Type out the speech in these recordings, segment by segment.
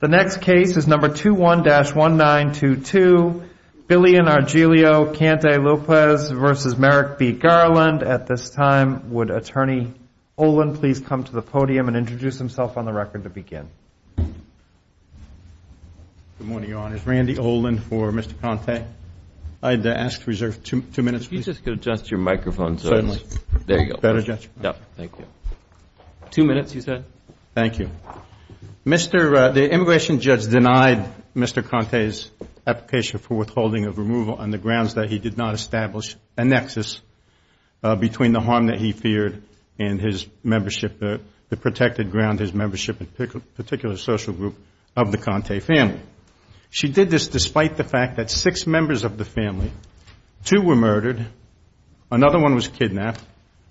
The next case is number 21-1922, Billy and Argelio Cante-Lopez v. Merrick B. Garland. At this time, would Attorney Olin please come to the podium and introduce himself on the record to begin? Good morning, Your Honors. Randy Olin for Mr. Cante. I'd ask to reserve two minutes, please. If you could just adjust your microphone, sir. Certainly. There you go. Better, Judge? Yeah. Thank you. Two minutes, you said? Thank you. The immigration judge denied Mr. Cante's application for withholding of removal on the grounds that he did not establish a nexus between the harm that he feared and his membership, the protected ground, his membership in a particular social group of the Cante family. She did this despite the fact that six members of the family, two were murdered, another one was kidnapped,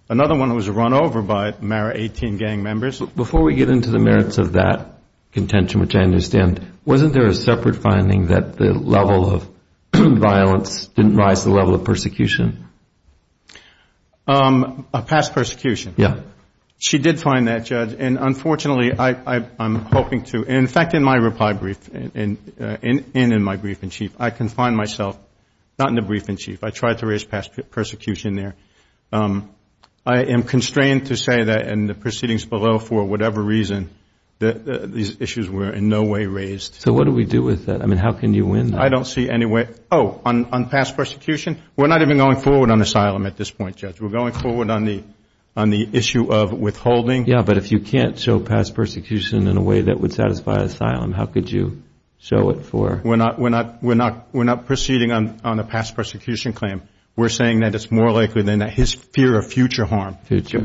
another one was run over by Merrick 18 gang members. Before we get into the merits of that contention, which I understand, wasn't there a separate finding that the level of violence didn't rise to the level of persecution? Past persecution. Yeah. She did find that, Judge. And unfortunately, I'm hoping to, in fact, in my reply brief and in my brief-in-chief, I confine myself, not in the brief-in-chief, I tried to raise past persecution there. I am constrained to say that in the proceedings below, for whatever reason, these issues were in no way raised. So what do we do with that? I mean, how can you win that? I don't see any way. Oh, on past persecution? We're not even going forward on asylum at this point, Judge. We're going forward on the issue of withholding. Yeah, but if you can't show past persecution in a way that would satisfy asylum, how could you show it for? We're not proceeding on a past persecution claim. We're saying that it's more likely than not. His fear of future harm, it's more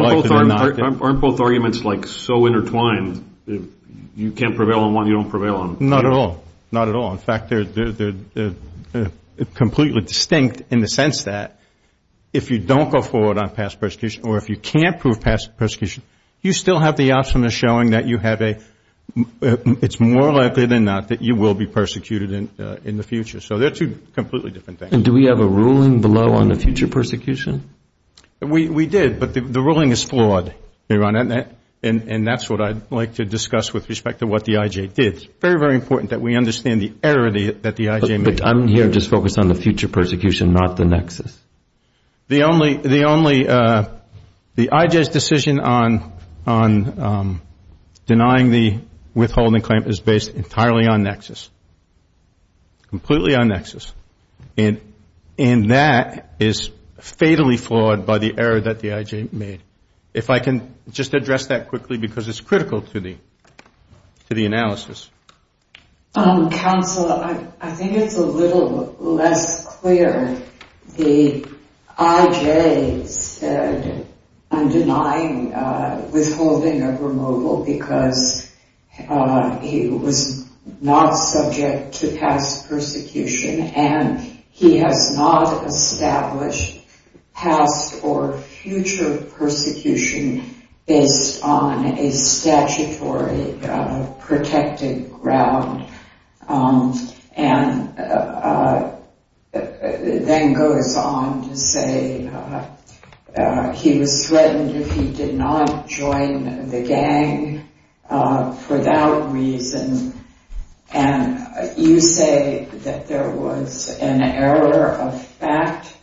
likely than not. Aren't both arguments, like, so intertwined, you can't prevail on one, you don't prevail on the other? Not at all. Not at all. In fact, they're completely distinct in the sense that if you don't go forward on past persecution or if you can't prove past persecution, you still have the option of showing that you have a, it's more likely than not that you will be persecuted in the future. So they're two completely different things. And do we have a ruling below on the future persecution? We did, but the ruling is flawed, Your Honor, and that's what I'd like to discuss with respect to what the I.J. did. It's very, very important that we understand the error that the I.J. made. But I'm here just focused on the future persecution, not the nexus. The only, the only, the I.J.'s decision on denying the withholding claim is based entirely on nexus, completely on nexus, and that is fatally flawed by the error that the I.J. made. If I can just address that quickly because it's critical to the, to the analysis. Counsel, I think it's a little less clear. The I.J. said I'm denying withholding of removal because he was not subject to past persecution and he has not established past or future persecution based on a statutory protected ground, and then goes on to say he was threatened if he did not join the gang for that reason. And you say that there was an error of fact,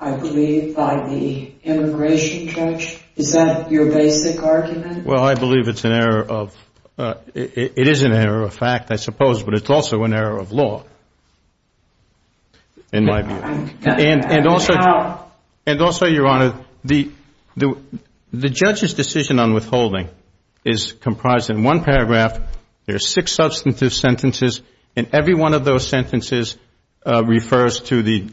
I believe, by the immigration judge. Is that your basic argument? Well, I believe it's an error of, it is an error of fact, I suppose, but it's also an error of law in my view. And also, and also, Your Honor, the judge's decision on withholding is comprised in one paragraph. There are six substantive sentences, and every one of those sentences refers to the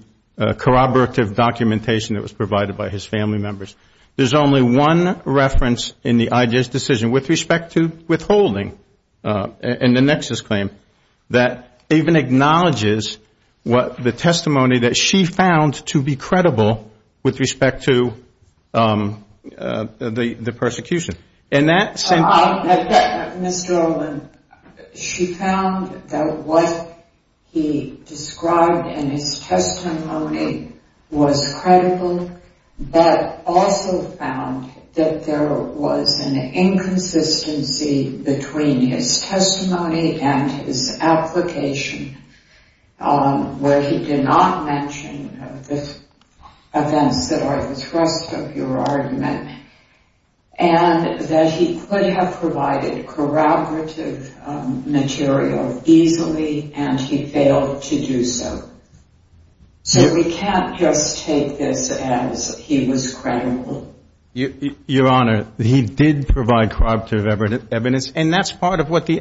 corroborative documentation that was provided by his family members. There's only one reference in the I.J.'s decision with respect to withholding in the Nexus claim that even acknowledges what the testimony that she found to be credible with respect to the persecution. In that sentence... Mr. Olin, she found that what he described in his testimony was credible, but also found that there was an inconsistency between his testimony and his application, where he did not mention the events that are the thrust of your argument. And that he could have provided corroborative material easily, and he failed to do so. So we can't just take this as he was credible. Your Honor, he did provide corroborative evidence, and that's part of what the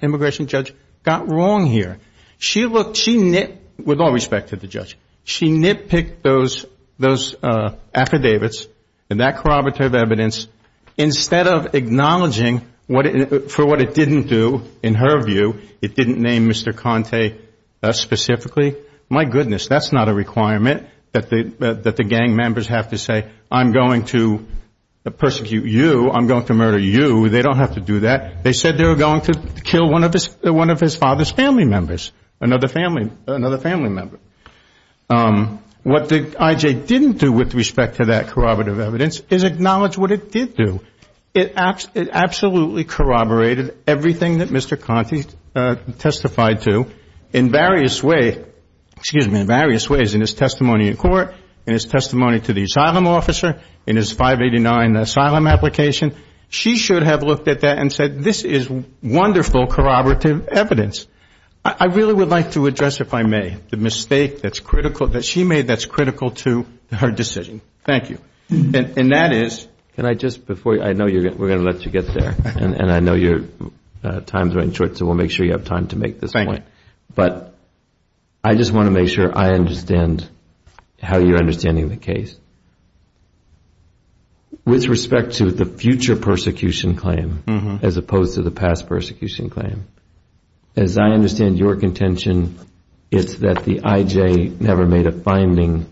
immigration judge got wrong here. She looked, she nitpicked, with all respect to the judge, she nitpicked those affidavits and that corroborative evidence instead of acknowledging for what it didn't do, in her view, it didn't name Mr. Conte specifically. My goodness, that's not a requirement that the gang members have to say, I'm going to persecute you, I'm going to murder you. They don't have to do that. They said they were going to kill one of his father's family members, another family member. What the IJ didn't do with respect to that corroborative evidence is acknowledge what it did do. It absolutely corroborated everything that Mr. Conte testified to in various ways, in his testimony in court, in his testimony to the asylum officer, in his 589 asylum application. She should have looked at that and said, this is wonderful corroborative evidence. I really would like to address, if I may, the mistake that's critical, that she made that's critical to her decision. Thank you. And that is. Can I just, before, I know we're going to let you get there, and I know your time's running short, so we'll make sure you have time to make this point. But I just want to make sure I understand how you're understanding the case. With respect to the future persecution claim, as opposed to the past persecution claim, as I understand your contention, it's that the IJ never made a finding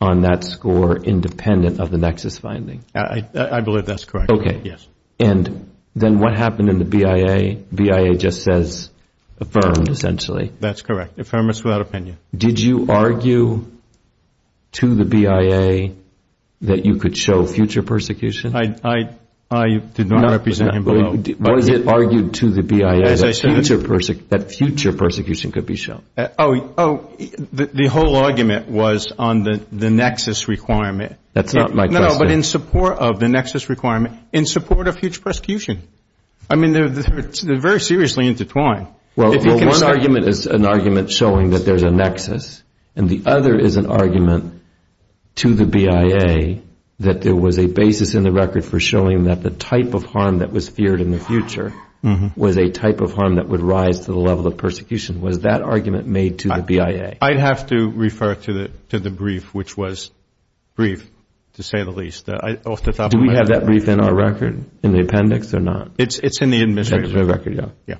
on that score independent of the Nexus finding. I believe that's correct. Okay. Yes. And then what happened in the BIA, BIA just says affirmed, essentially. That's correct. Affirmance without opinion. Did you argue to the BIA that you could show future persecution? I did not represent him below. Was it argued to the BIA that future persecution could be shown? Oh, the whole argument was on the Nexus requirement. That's not my question. No, no, but in support of the Nexus requirement, in support of future persecution. I mean, they're very seriously intertwined. Well, one argument is an argument showing that there's a Nexus. And the other is an argument to the BIA that there was a basis in the record for showing that the type of harm that was feared in the future was a type of harm that would rise to the level of persecution. Was that argument made to the BIA? I'd have to refer to the brief, which was brief, to say the least, off the top of my head. Do we have that brief in our record, in the appendix or not? It's in the administrative record, yeah.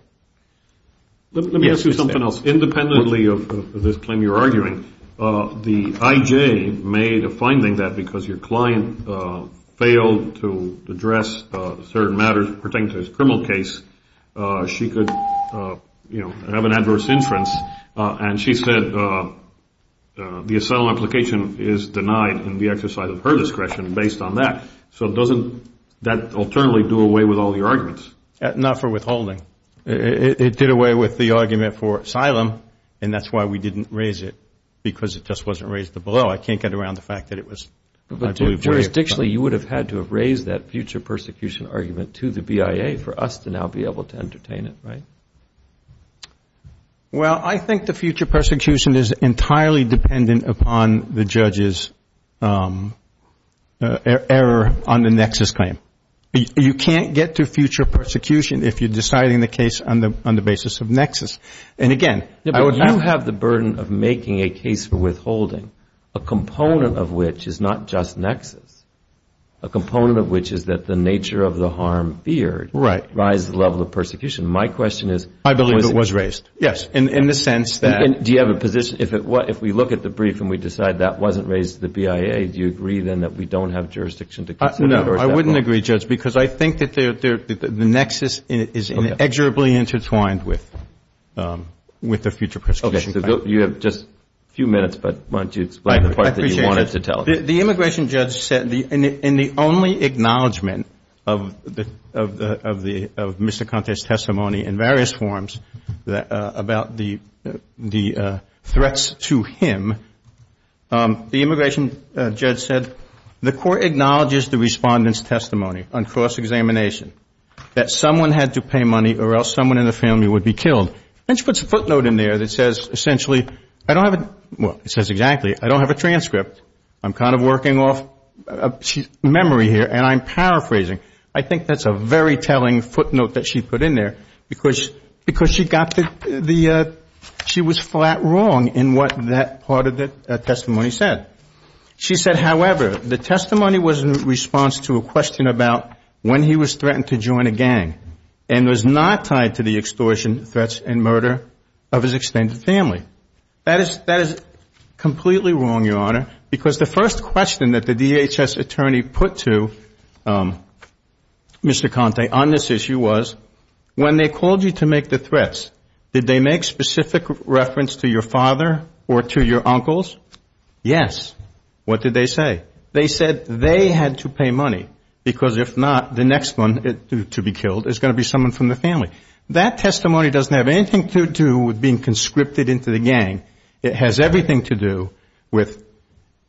Let me ask you something else. Independently of this claim you're arguing, the IJ made a finding that because your client failed to address certain matters pertaining to his criminal case, she could have an adverse inference. And she said the asylum application is denied in the exercise of her discretion based on that. So doesn't that alternately do away with all your arguments? Not for withholding. It did away with the argument for asylum. And that's why we didn't raise it, because it just wasn't raised to below. I can't get around the fact that it was, I believe, way above. Jurisdictionally, you would have had to have raised that future persecution argument to the BIA for us to now be able to entertain it, right? Well, I think the future persecution is entirely dependent upon the judge's error on the Nexus claim. You can't get to future persecution if you're deciding the case on the basis of Nexus. And again, I would have to You have the burden of making a case for withholding, a component of which is not just Nexus. A component of which is that the nature of the harm feared Right. Rises the level of persecution. My question is I believe it was raised. Yes, in the sense that Do you have a position, if we look at the brief and we decide that wasn't raised to the BIA, do you agree then that we don't have jurisdiction to consider it? I wouldn't agree, Judge, because I think that the Nexus is inexorably intertwined with the future persecution claim. You have just a few minutes, but why don't you explain the part that you wanted to tell us? The immigration judge said, in the only acknowledgement of Mr. Conte's testimony in various forms about the threats to him, the immigration judge said, the court acknowledges the respondent's testimony on cross-examination, that someone had to pay money or else someone in the family would be killed. And she puts a footnote in there that says, essentially, I don't have a Well, it says exactly, I don't have a transcript. I'm kind of working off memory here. And I'm paraphrasing. I think that's a very telling footnote that she put in there, because she got the She was flat wrong in what that part of the testimony said. She said, however, the testimony was in response to a question about when he was threatened to join a gang and was not tied to the extortion, threats, and murder of his extended family. That is completely wrong, Your Honor, because the first question that the DHS attorney put to Mr. Conte on this issue was, when they called you to make the threats, did they make specific reference to your father or to your uncles? Yes. What did they say? They said they had to pay money, because if not, the next one to be killed is going to be someone from the family. That testimony doesn't have anything to do with being conscripted into the gang. It has everything to do with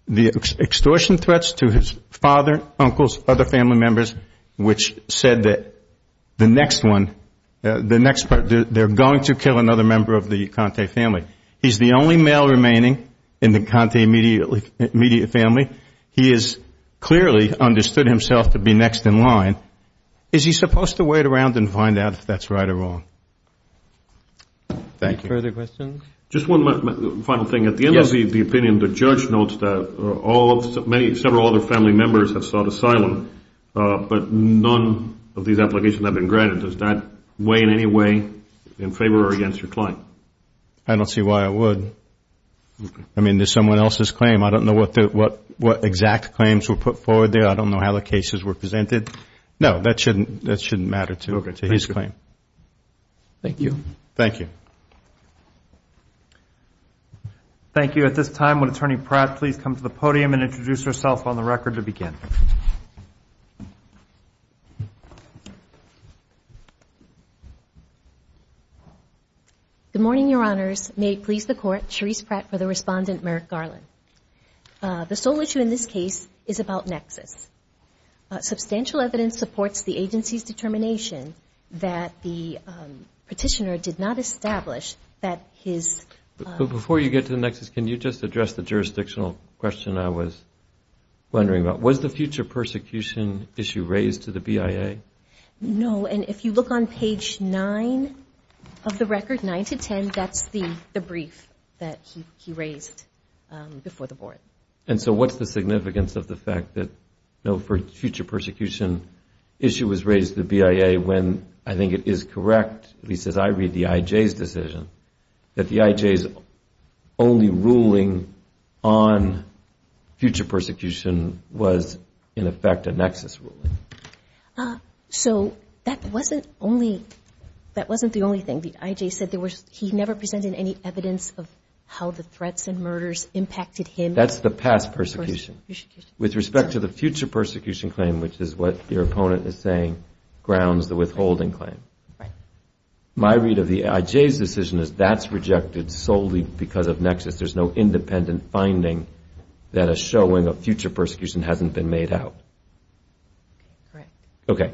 the extortion threats to his father, uncles, other family members, which said that the next one, the next part, they're going to kill another member of the Conte family. He's the only male remaining in the Conte immediate family. He has clearly understood himself to be next in line. Is he supposed to wait around and find out if that's right or wrong? Thank you. Further questions? Just one final thing. At the end of the opinion, the judge notes that several other family members have sought asylum, but none of these applications have been granted. Does that weigh in any way in favor or against your client? I don't see why it would. I mean, there's someone else's claim. I don't know what exact claims were put forward there. I don't know how the cases were presented. No, that shouldn't matter to his claim. Thank you. Thank you. Thank you. At this time, would Attorney Pratt please come to the podium and introduce herself on the record to begin? Good morning, Your Honors. May it please the Court, Charisse Pratt for the respondent, Merrick Garland. The sole issue in this case is about nexus. Substantial evidence supports the agency's determination that the petitioner did not establish that his... Before you get to the nexus, can you just address the jurisdictional question I was wondering about? Was the future persecution issue raised to the BIA? No. And if you look on page 9 of the record, 9 to 10, that's the brief that he raised before the Board. And so what's the significance of the fact that no future persecution issue was raised to the BIA when I think it is correct, at least as I read the IJ's decision, that the was in effect a nexus ruling. So that wasn't the only thing. The IJ said he never presented any evidence of how the threats and murders impacted him. That's the past persecution. With respect to the future persecution claim, which is what your opponent is saying, grounds the withholding claim. My read of the IJ's decision is that's rejected solely because of nexus. There's no independent finding that is showing a future persecution hasn't been made out. Correct. Okay.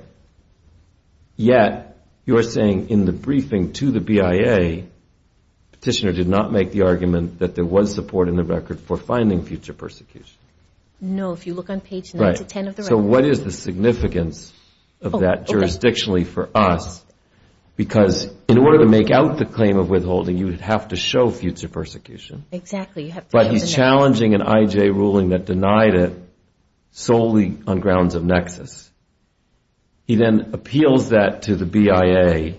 Yet, you're saying in the briefing to the BIA, the petitioner did not make the argument that there was support in the record for finding future persecution. No, if you look on page 9 to 10 of the record. So what is the significance of that jurisdictionally for us? Because in order to make out the claim of withholding, you would have to show future persecution. But he's challenging an IJ ruling that denied it solely on grounds of nexus. He then appeals that to the BIA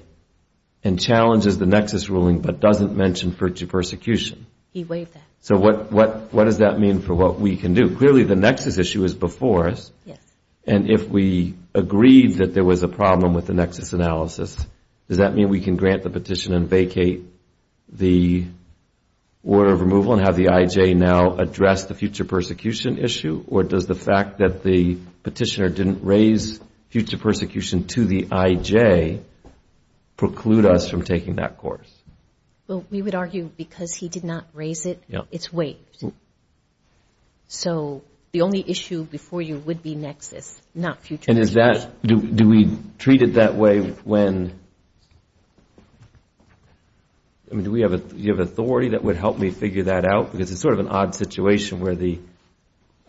and challenges the nexus ruling but doesn't mention future persecution. He waived that. So what does that mean for what we can do? Clearly, the nexus issue is before us. And if we agreed that there was a problem with the nexus analysis, does that mean we can grant the petition and vacate the order of removal and have the IJ now address the future persecution issue? Or does the fact that the petitioner didn't raise future persecution to the IJ preclude us from taking that course? Well, we would argue because he did not raise it, it's waived. So the only issue before you would be nexus, not future persecution. Do we treat it that way when, I mean, do we have authority that would help me figure that out? Because it's sort of an odd situation where the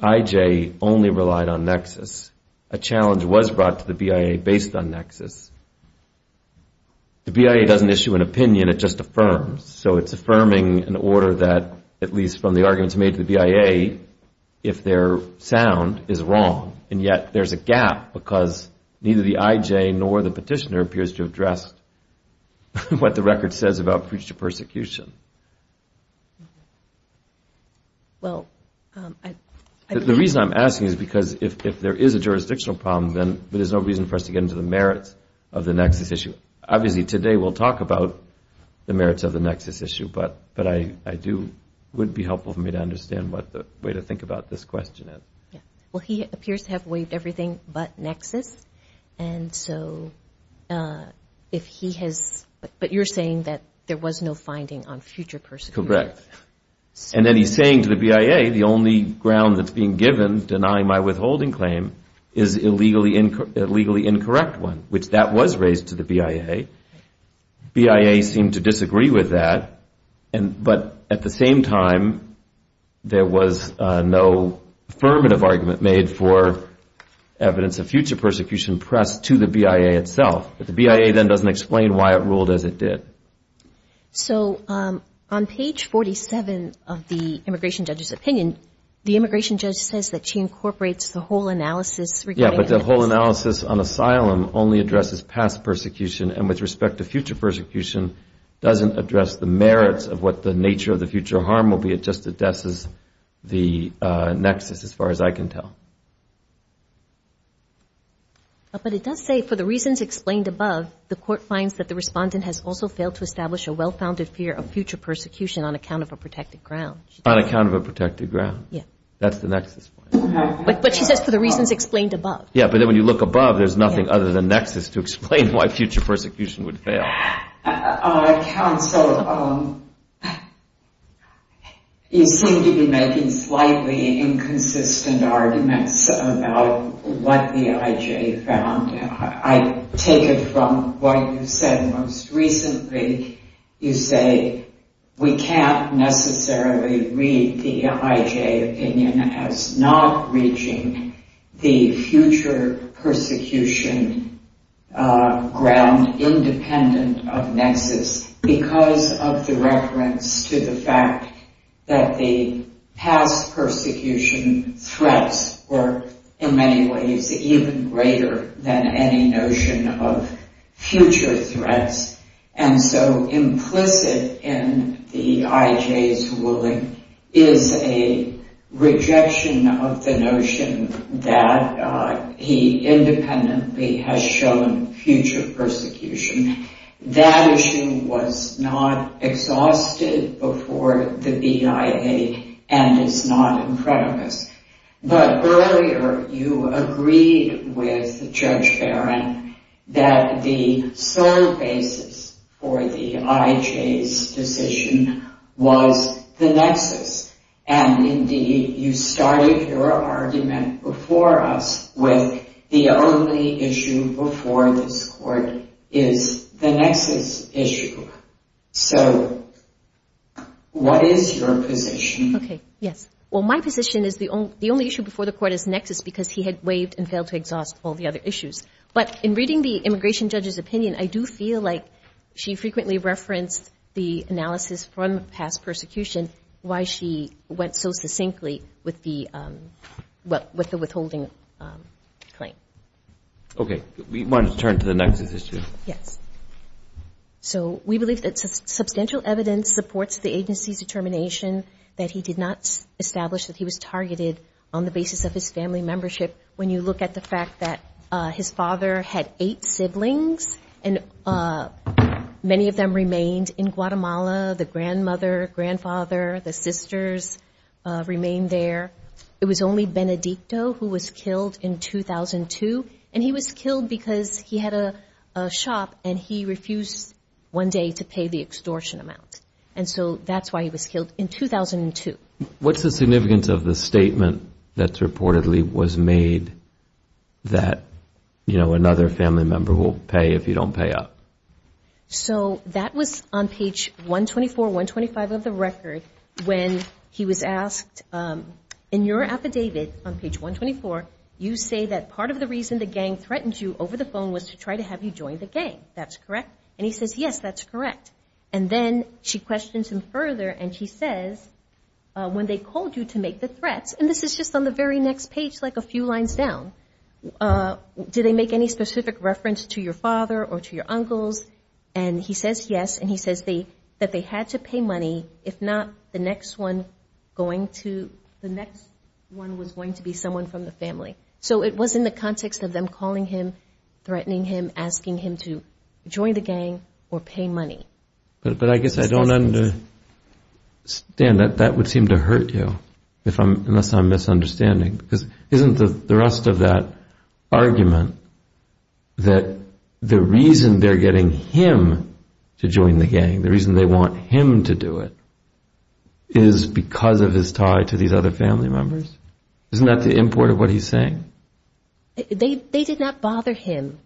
IJ only relied on nexus. A challenge was brought to the BIA based on nexus. The BIA doesn't issue an opinion, it just affirms. So it's affirming an order that, at least from the arguments made to the BIA, if they're sound, is wrong. And yet, there's a gap because neither the IJ nor the petitioner appears to have addressed what the record says about future persecution. Well, I don't know. The reason I'm asking is because if there is a jurisdictional problem, then there's no reason for us to get into the merits of the nexus issue. Obviously, today we'll talk about the merits of the nexus issue, but it would be helpful for me to understand what the way to think about this question is. Well, he appears to have waived everything but nexus. And so, if he has, but you're saying that there was no finding on future persecution? Correct. And then he's saying to the BIA, the only ground that's being given, denying my withholding claim, is a legally incorrect one, which that was raised to the BIA. BIA seemed to disagree with that. But at the same time, there was no affirmative argument made for evidence of future persecution pressed to the BIA itself. But the BIA then doesn't explain why it ruled as it did. So, on page 47 of the immigration judge's opinion, the immigration judge says that she incorporates the whole analysis regarding nexus. Only addresses past persecution. And with respect to future persecution, doesn't address the merits of what the nature of the future harm will be. It just addresses the nexus, as far as I can tell. But it does say, for the reasons explained above, the court finds that the respondent has also failed to establish a well-founded fear of future persecution on account of a protected ground. On account of a protected ground. Yeah. That's the nexus point. But she says for the reasons explained above. But when you look above, there's nothing other than nexus to explain why future persecution would fail. Counsel, you seem to be making slightly inconsistent arguments about what the IJ found. I take it from what you said most recently. You say we can't necessarily read the IJ opinion as not reaching the future persecution ground independent of nexus because of the reference to the fact that the past persecution threats were, in many ways, even greater than any notion of future threats. And so implicit in the IJ's ruling is a rejection of the notion that he independently has shown future persecution. That issue was not exhausted before the BIA and is not in front of us. But earlier, you agreed with Judge Barron that the sole basis for the IJ's decision was the nexus. And indeed, you started your argument before us with the only issue before this court is the nexus issue. So what is your position? OK. Yes. Well, my position is the only issue before the court is nexus because he had waived and failed to exhaust all the other issues. But in reading the immigration judge's opinion, I do feel like she frequently referenced the analysis from past persecution why she went so succinctly with the withholding claim. OK. We want to turn to the nexus issue. Yes. So we believe that substantial evidence supports the agency's determination that he did not establish that he was targeted on the basis of his family membership. When you look at the fact that his father had eight siblings and many of them remained in Guatemala, the grandmother, grandfather, the sisters remained there. It was only Benedicto who was killed in 2002. And he was killed because he had a shop and he refused one day to pay the extortion amount. And so that's why he was killed in 2002. What's the significance of the statement that reportedly was made that, you know, another family member will pay if you don't pay up? So that was on page 124, 125 of the record when he was asked, in your affidavit on page 124, you say that part of the reason the gang threatened you over the phone was to try to have you join the gang. That's correct? And he says, yes, that's correct. And then she questions him further and she says, when they called you to make the threats, and this is just on the very next page, like a few lines down, did they make any specific reference to your father or to your uncles? And he says, yes. And he says that they had to pay money if not the next one was going to be someone from the family. So it was in the context of them calling him, threatening him, asking him to join the gang or pay money. But I guess I don't understand. That would seem to hurt you, unless I'm misunderstanding. Because isn't the thrust of that argument that the reason they're getting him to join the gang, the reason they want him to do it, is because of his tie to these other family members? Isn't that the import of what he's saying? They did not bother him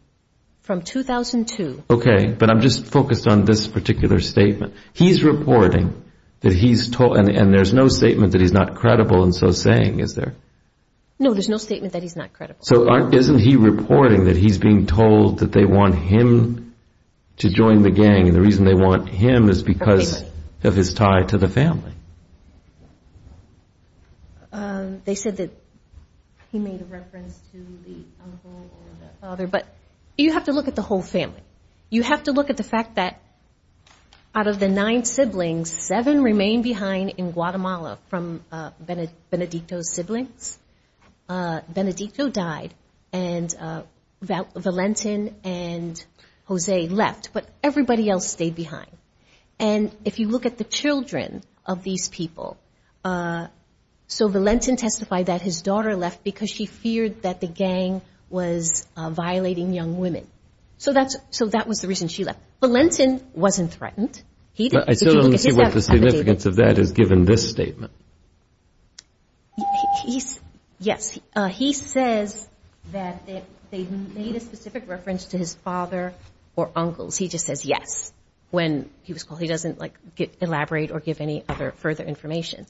from 2002. OK, but I'm just focused on this particular statement. He's reporting that he's told, and there's no statement that he's not credible in so saying, is there? No, there's no statement that he's not credible. So isn't he reporting that he's being told that they want him to join the gang and the reason they want him is because of his tie to the family? But you have to look at the whole family. You have to look at the fact that out of the nine siblings, seven remain behind in Guatemala from Benedicto's siblings. Benedicto died and Valentin and Jose left. But everybody else stayed behind. And if you look at the children of these people, so Valentin testified that his daughter left because she feared that the gang was violating young women. So that's so that was the reason she left. Valentin wasn't threatened. But I still don't see what the significance of that is given this statement. Yes, he says that they made a specific reference to his father or uncles. He just says yes, when he was called. He doesn't like elaborate or give any other further information.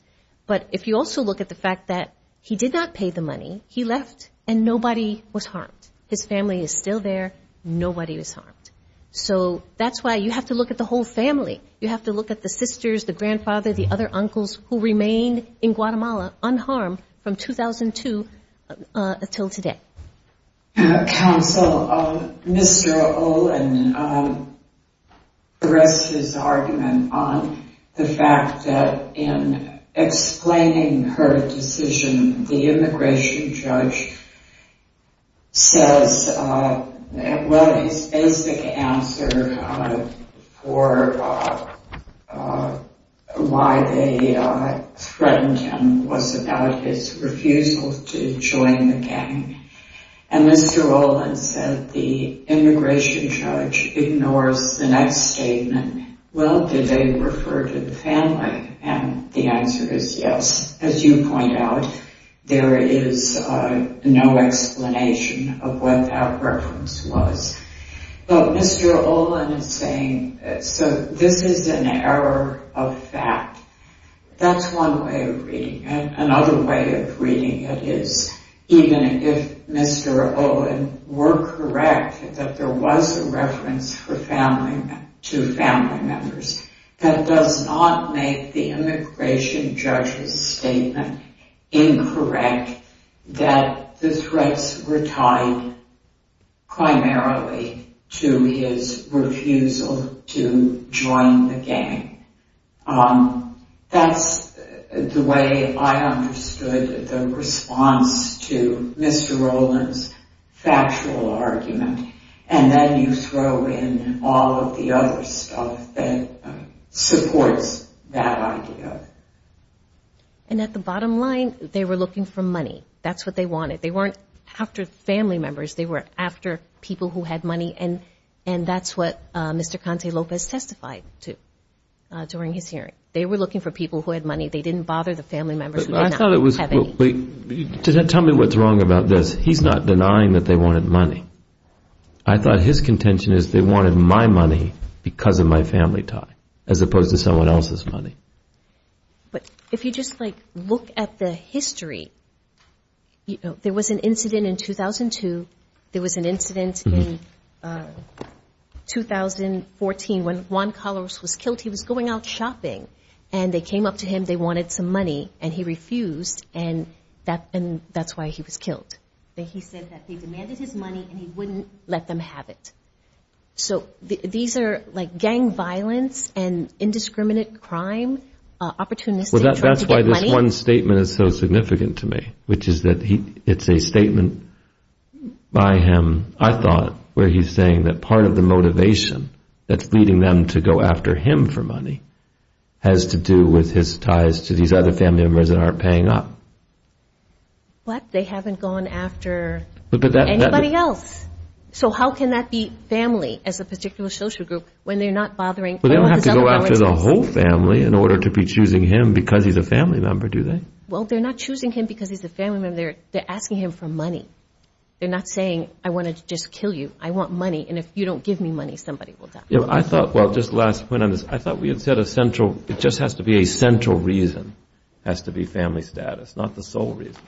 But if you also look at the fact that he did not pay the money, he left and nobody was harmed. His family is still there. Nobody was harmed. So that's why you have to look at the whole family. You have to look at the sisters, the grandfather, the other uncles who remained in Guatemala unharmed from 2002 until today. Counsel, Mr. Olin addresses his argument on the fact that in explaining her decision, the immigration judge says, well, his basic answer for why they threatened him was about his refusal to join the gang. And Mr. Olin said the immigration judge ignores the next statement. Well, did they refer to the family? And the answer is yes. As you point out, there is no explanation of what that reference was. But Mr. Olin is saying, so this is an error of fact. That's one way of reading it. Another way of reading it is even if Mr. Olin were correct that there was a reference to family members, that does not make the immigration judge's statement incorrect that the threats were tied primarily to his refusal to join the gang. That's the way I understood the response to Mr. Olin's factual argument. And then you throw in all of the other stuff that supports that idea. And at the bottom line, they were looking for money. That's what they wanted. They weren't after family members. They were after people who had money. And that's what Mr. Conte Lopez testified to during his hearing. They were looking for people who had money. They didn't bother the family members. But I thought it was, tell me what's wrong about this. He's not denying that they wanted money. I thought his contention is they wanted my money because of my family tie as opposed to someone else's money. But if you just like look at the history, you know, there was an incident in 2002. There was an incident in 2014 when Juan Calaveras was killed. He was going out shopping. And they came up to him. They wanted some money. And he refused. And that's why he was killed. He said that they demanded his money and he wouldn't let them have it. So these are like gang violence and indiscriminate crime, opportunistic. Well, that's why this one statement is so significant to me, which is that it's a statement by him, I thought, where he's saying that part of the motivation that's leading them to go after him for money has to do with his ties to these other family members that aren't paying up. What? They haven't gone after anybody else. So how can that be family as a particular social group when they're not bothering? Well, they don't have to go after the whole family in order to be choosing him because he's a family member, do they? Well, they're not choosing him because he's a family member. They're asking him for money. They're not saying, I want to just kill you. I want money. And if you don't give me money, somebody will die. I thought, well, just last point on this. I thought we had said a central, it just has to be a central reason, has to be family status, not the sole reason.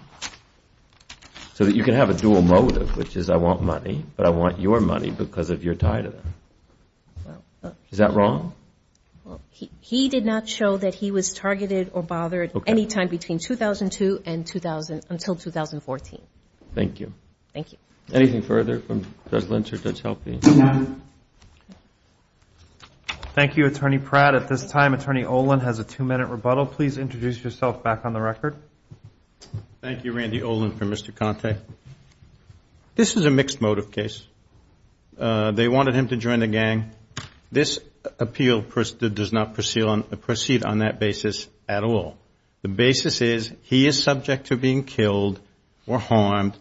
So that you can have a dual motive, which is I want money, but I want your money because of your tie to them. Is that wrong? He did not show that he was targeted or bothered any time between 2002 and until 2014. Thank you. Thank you. Anything further from Judge Lynch or Judge Helpe? Thank you, Attorney Pratt. At this time, Attorney Olin has a two-minute rebuttal. Please introduce yourself back on the record. Thank you, Randy Olin for Mr. Conte. This is a mixed motive case. They wanted him to join the gang. This appeal does not proceed on that basis at all. The basis is he is subject to being killed or harmed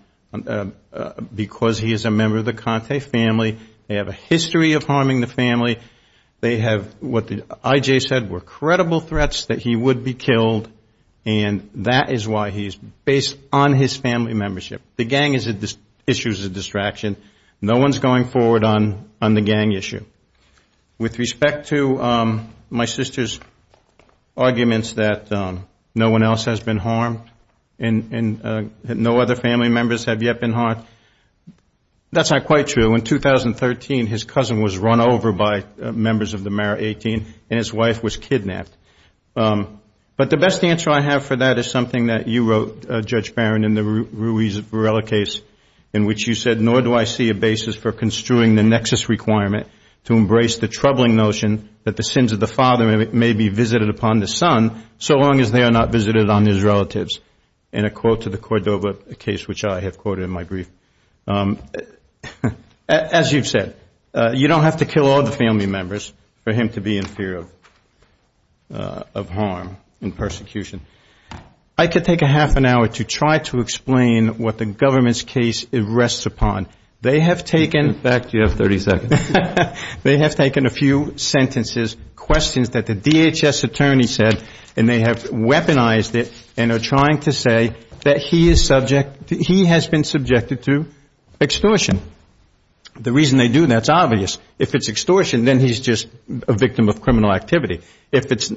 because he is a member of the Conte family. They have a history of harming the family. They have what the IJ said were credible threats that he would be killed and that is why he is based on his family membership. The gang issue is a distraction. No one is going forward on the gang issue. With respect to my sister's arguments that no one else has been harmed and no other family members have yet been harmed, that is not quite true. In 2013, his cousin was run over by members of the Mara 18 and his wife was kidnapped. But the best answer I have for that is something that you wrote, Judge Barron, in the Ruiz Varela case in which you said, nor do I see a basis for construing the nexus requirement to embrace the troubling notion that the sins of the father may be visited upon the son so long as they are not visited on his relatives. In a quote to the Cordova case which I have quoted in my brief, as you've said, you don't have to kill all the family members for him to be in fear of harm and persecution. I could take a half an hour to try to explain what the government's case rests upon. They have taken a few sentences, questions that the DHS attorney said and they have weaponized it and are trying to say that he has been subjected to extortion. The reason they do that is obvious. If it's extortion, then he's just a victim of criminal activity. If it's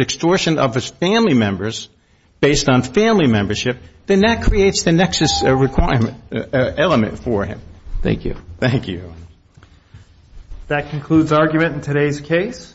extortion of his family members based on family membership, then that creates the nexus element for him. Thank you. Thank you. That concludes argument in today's case.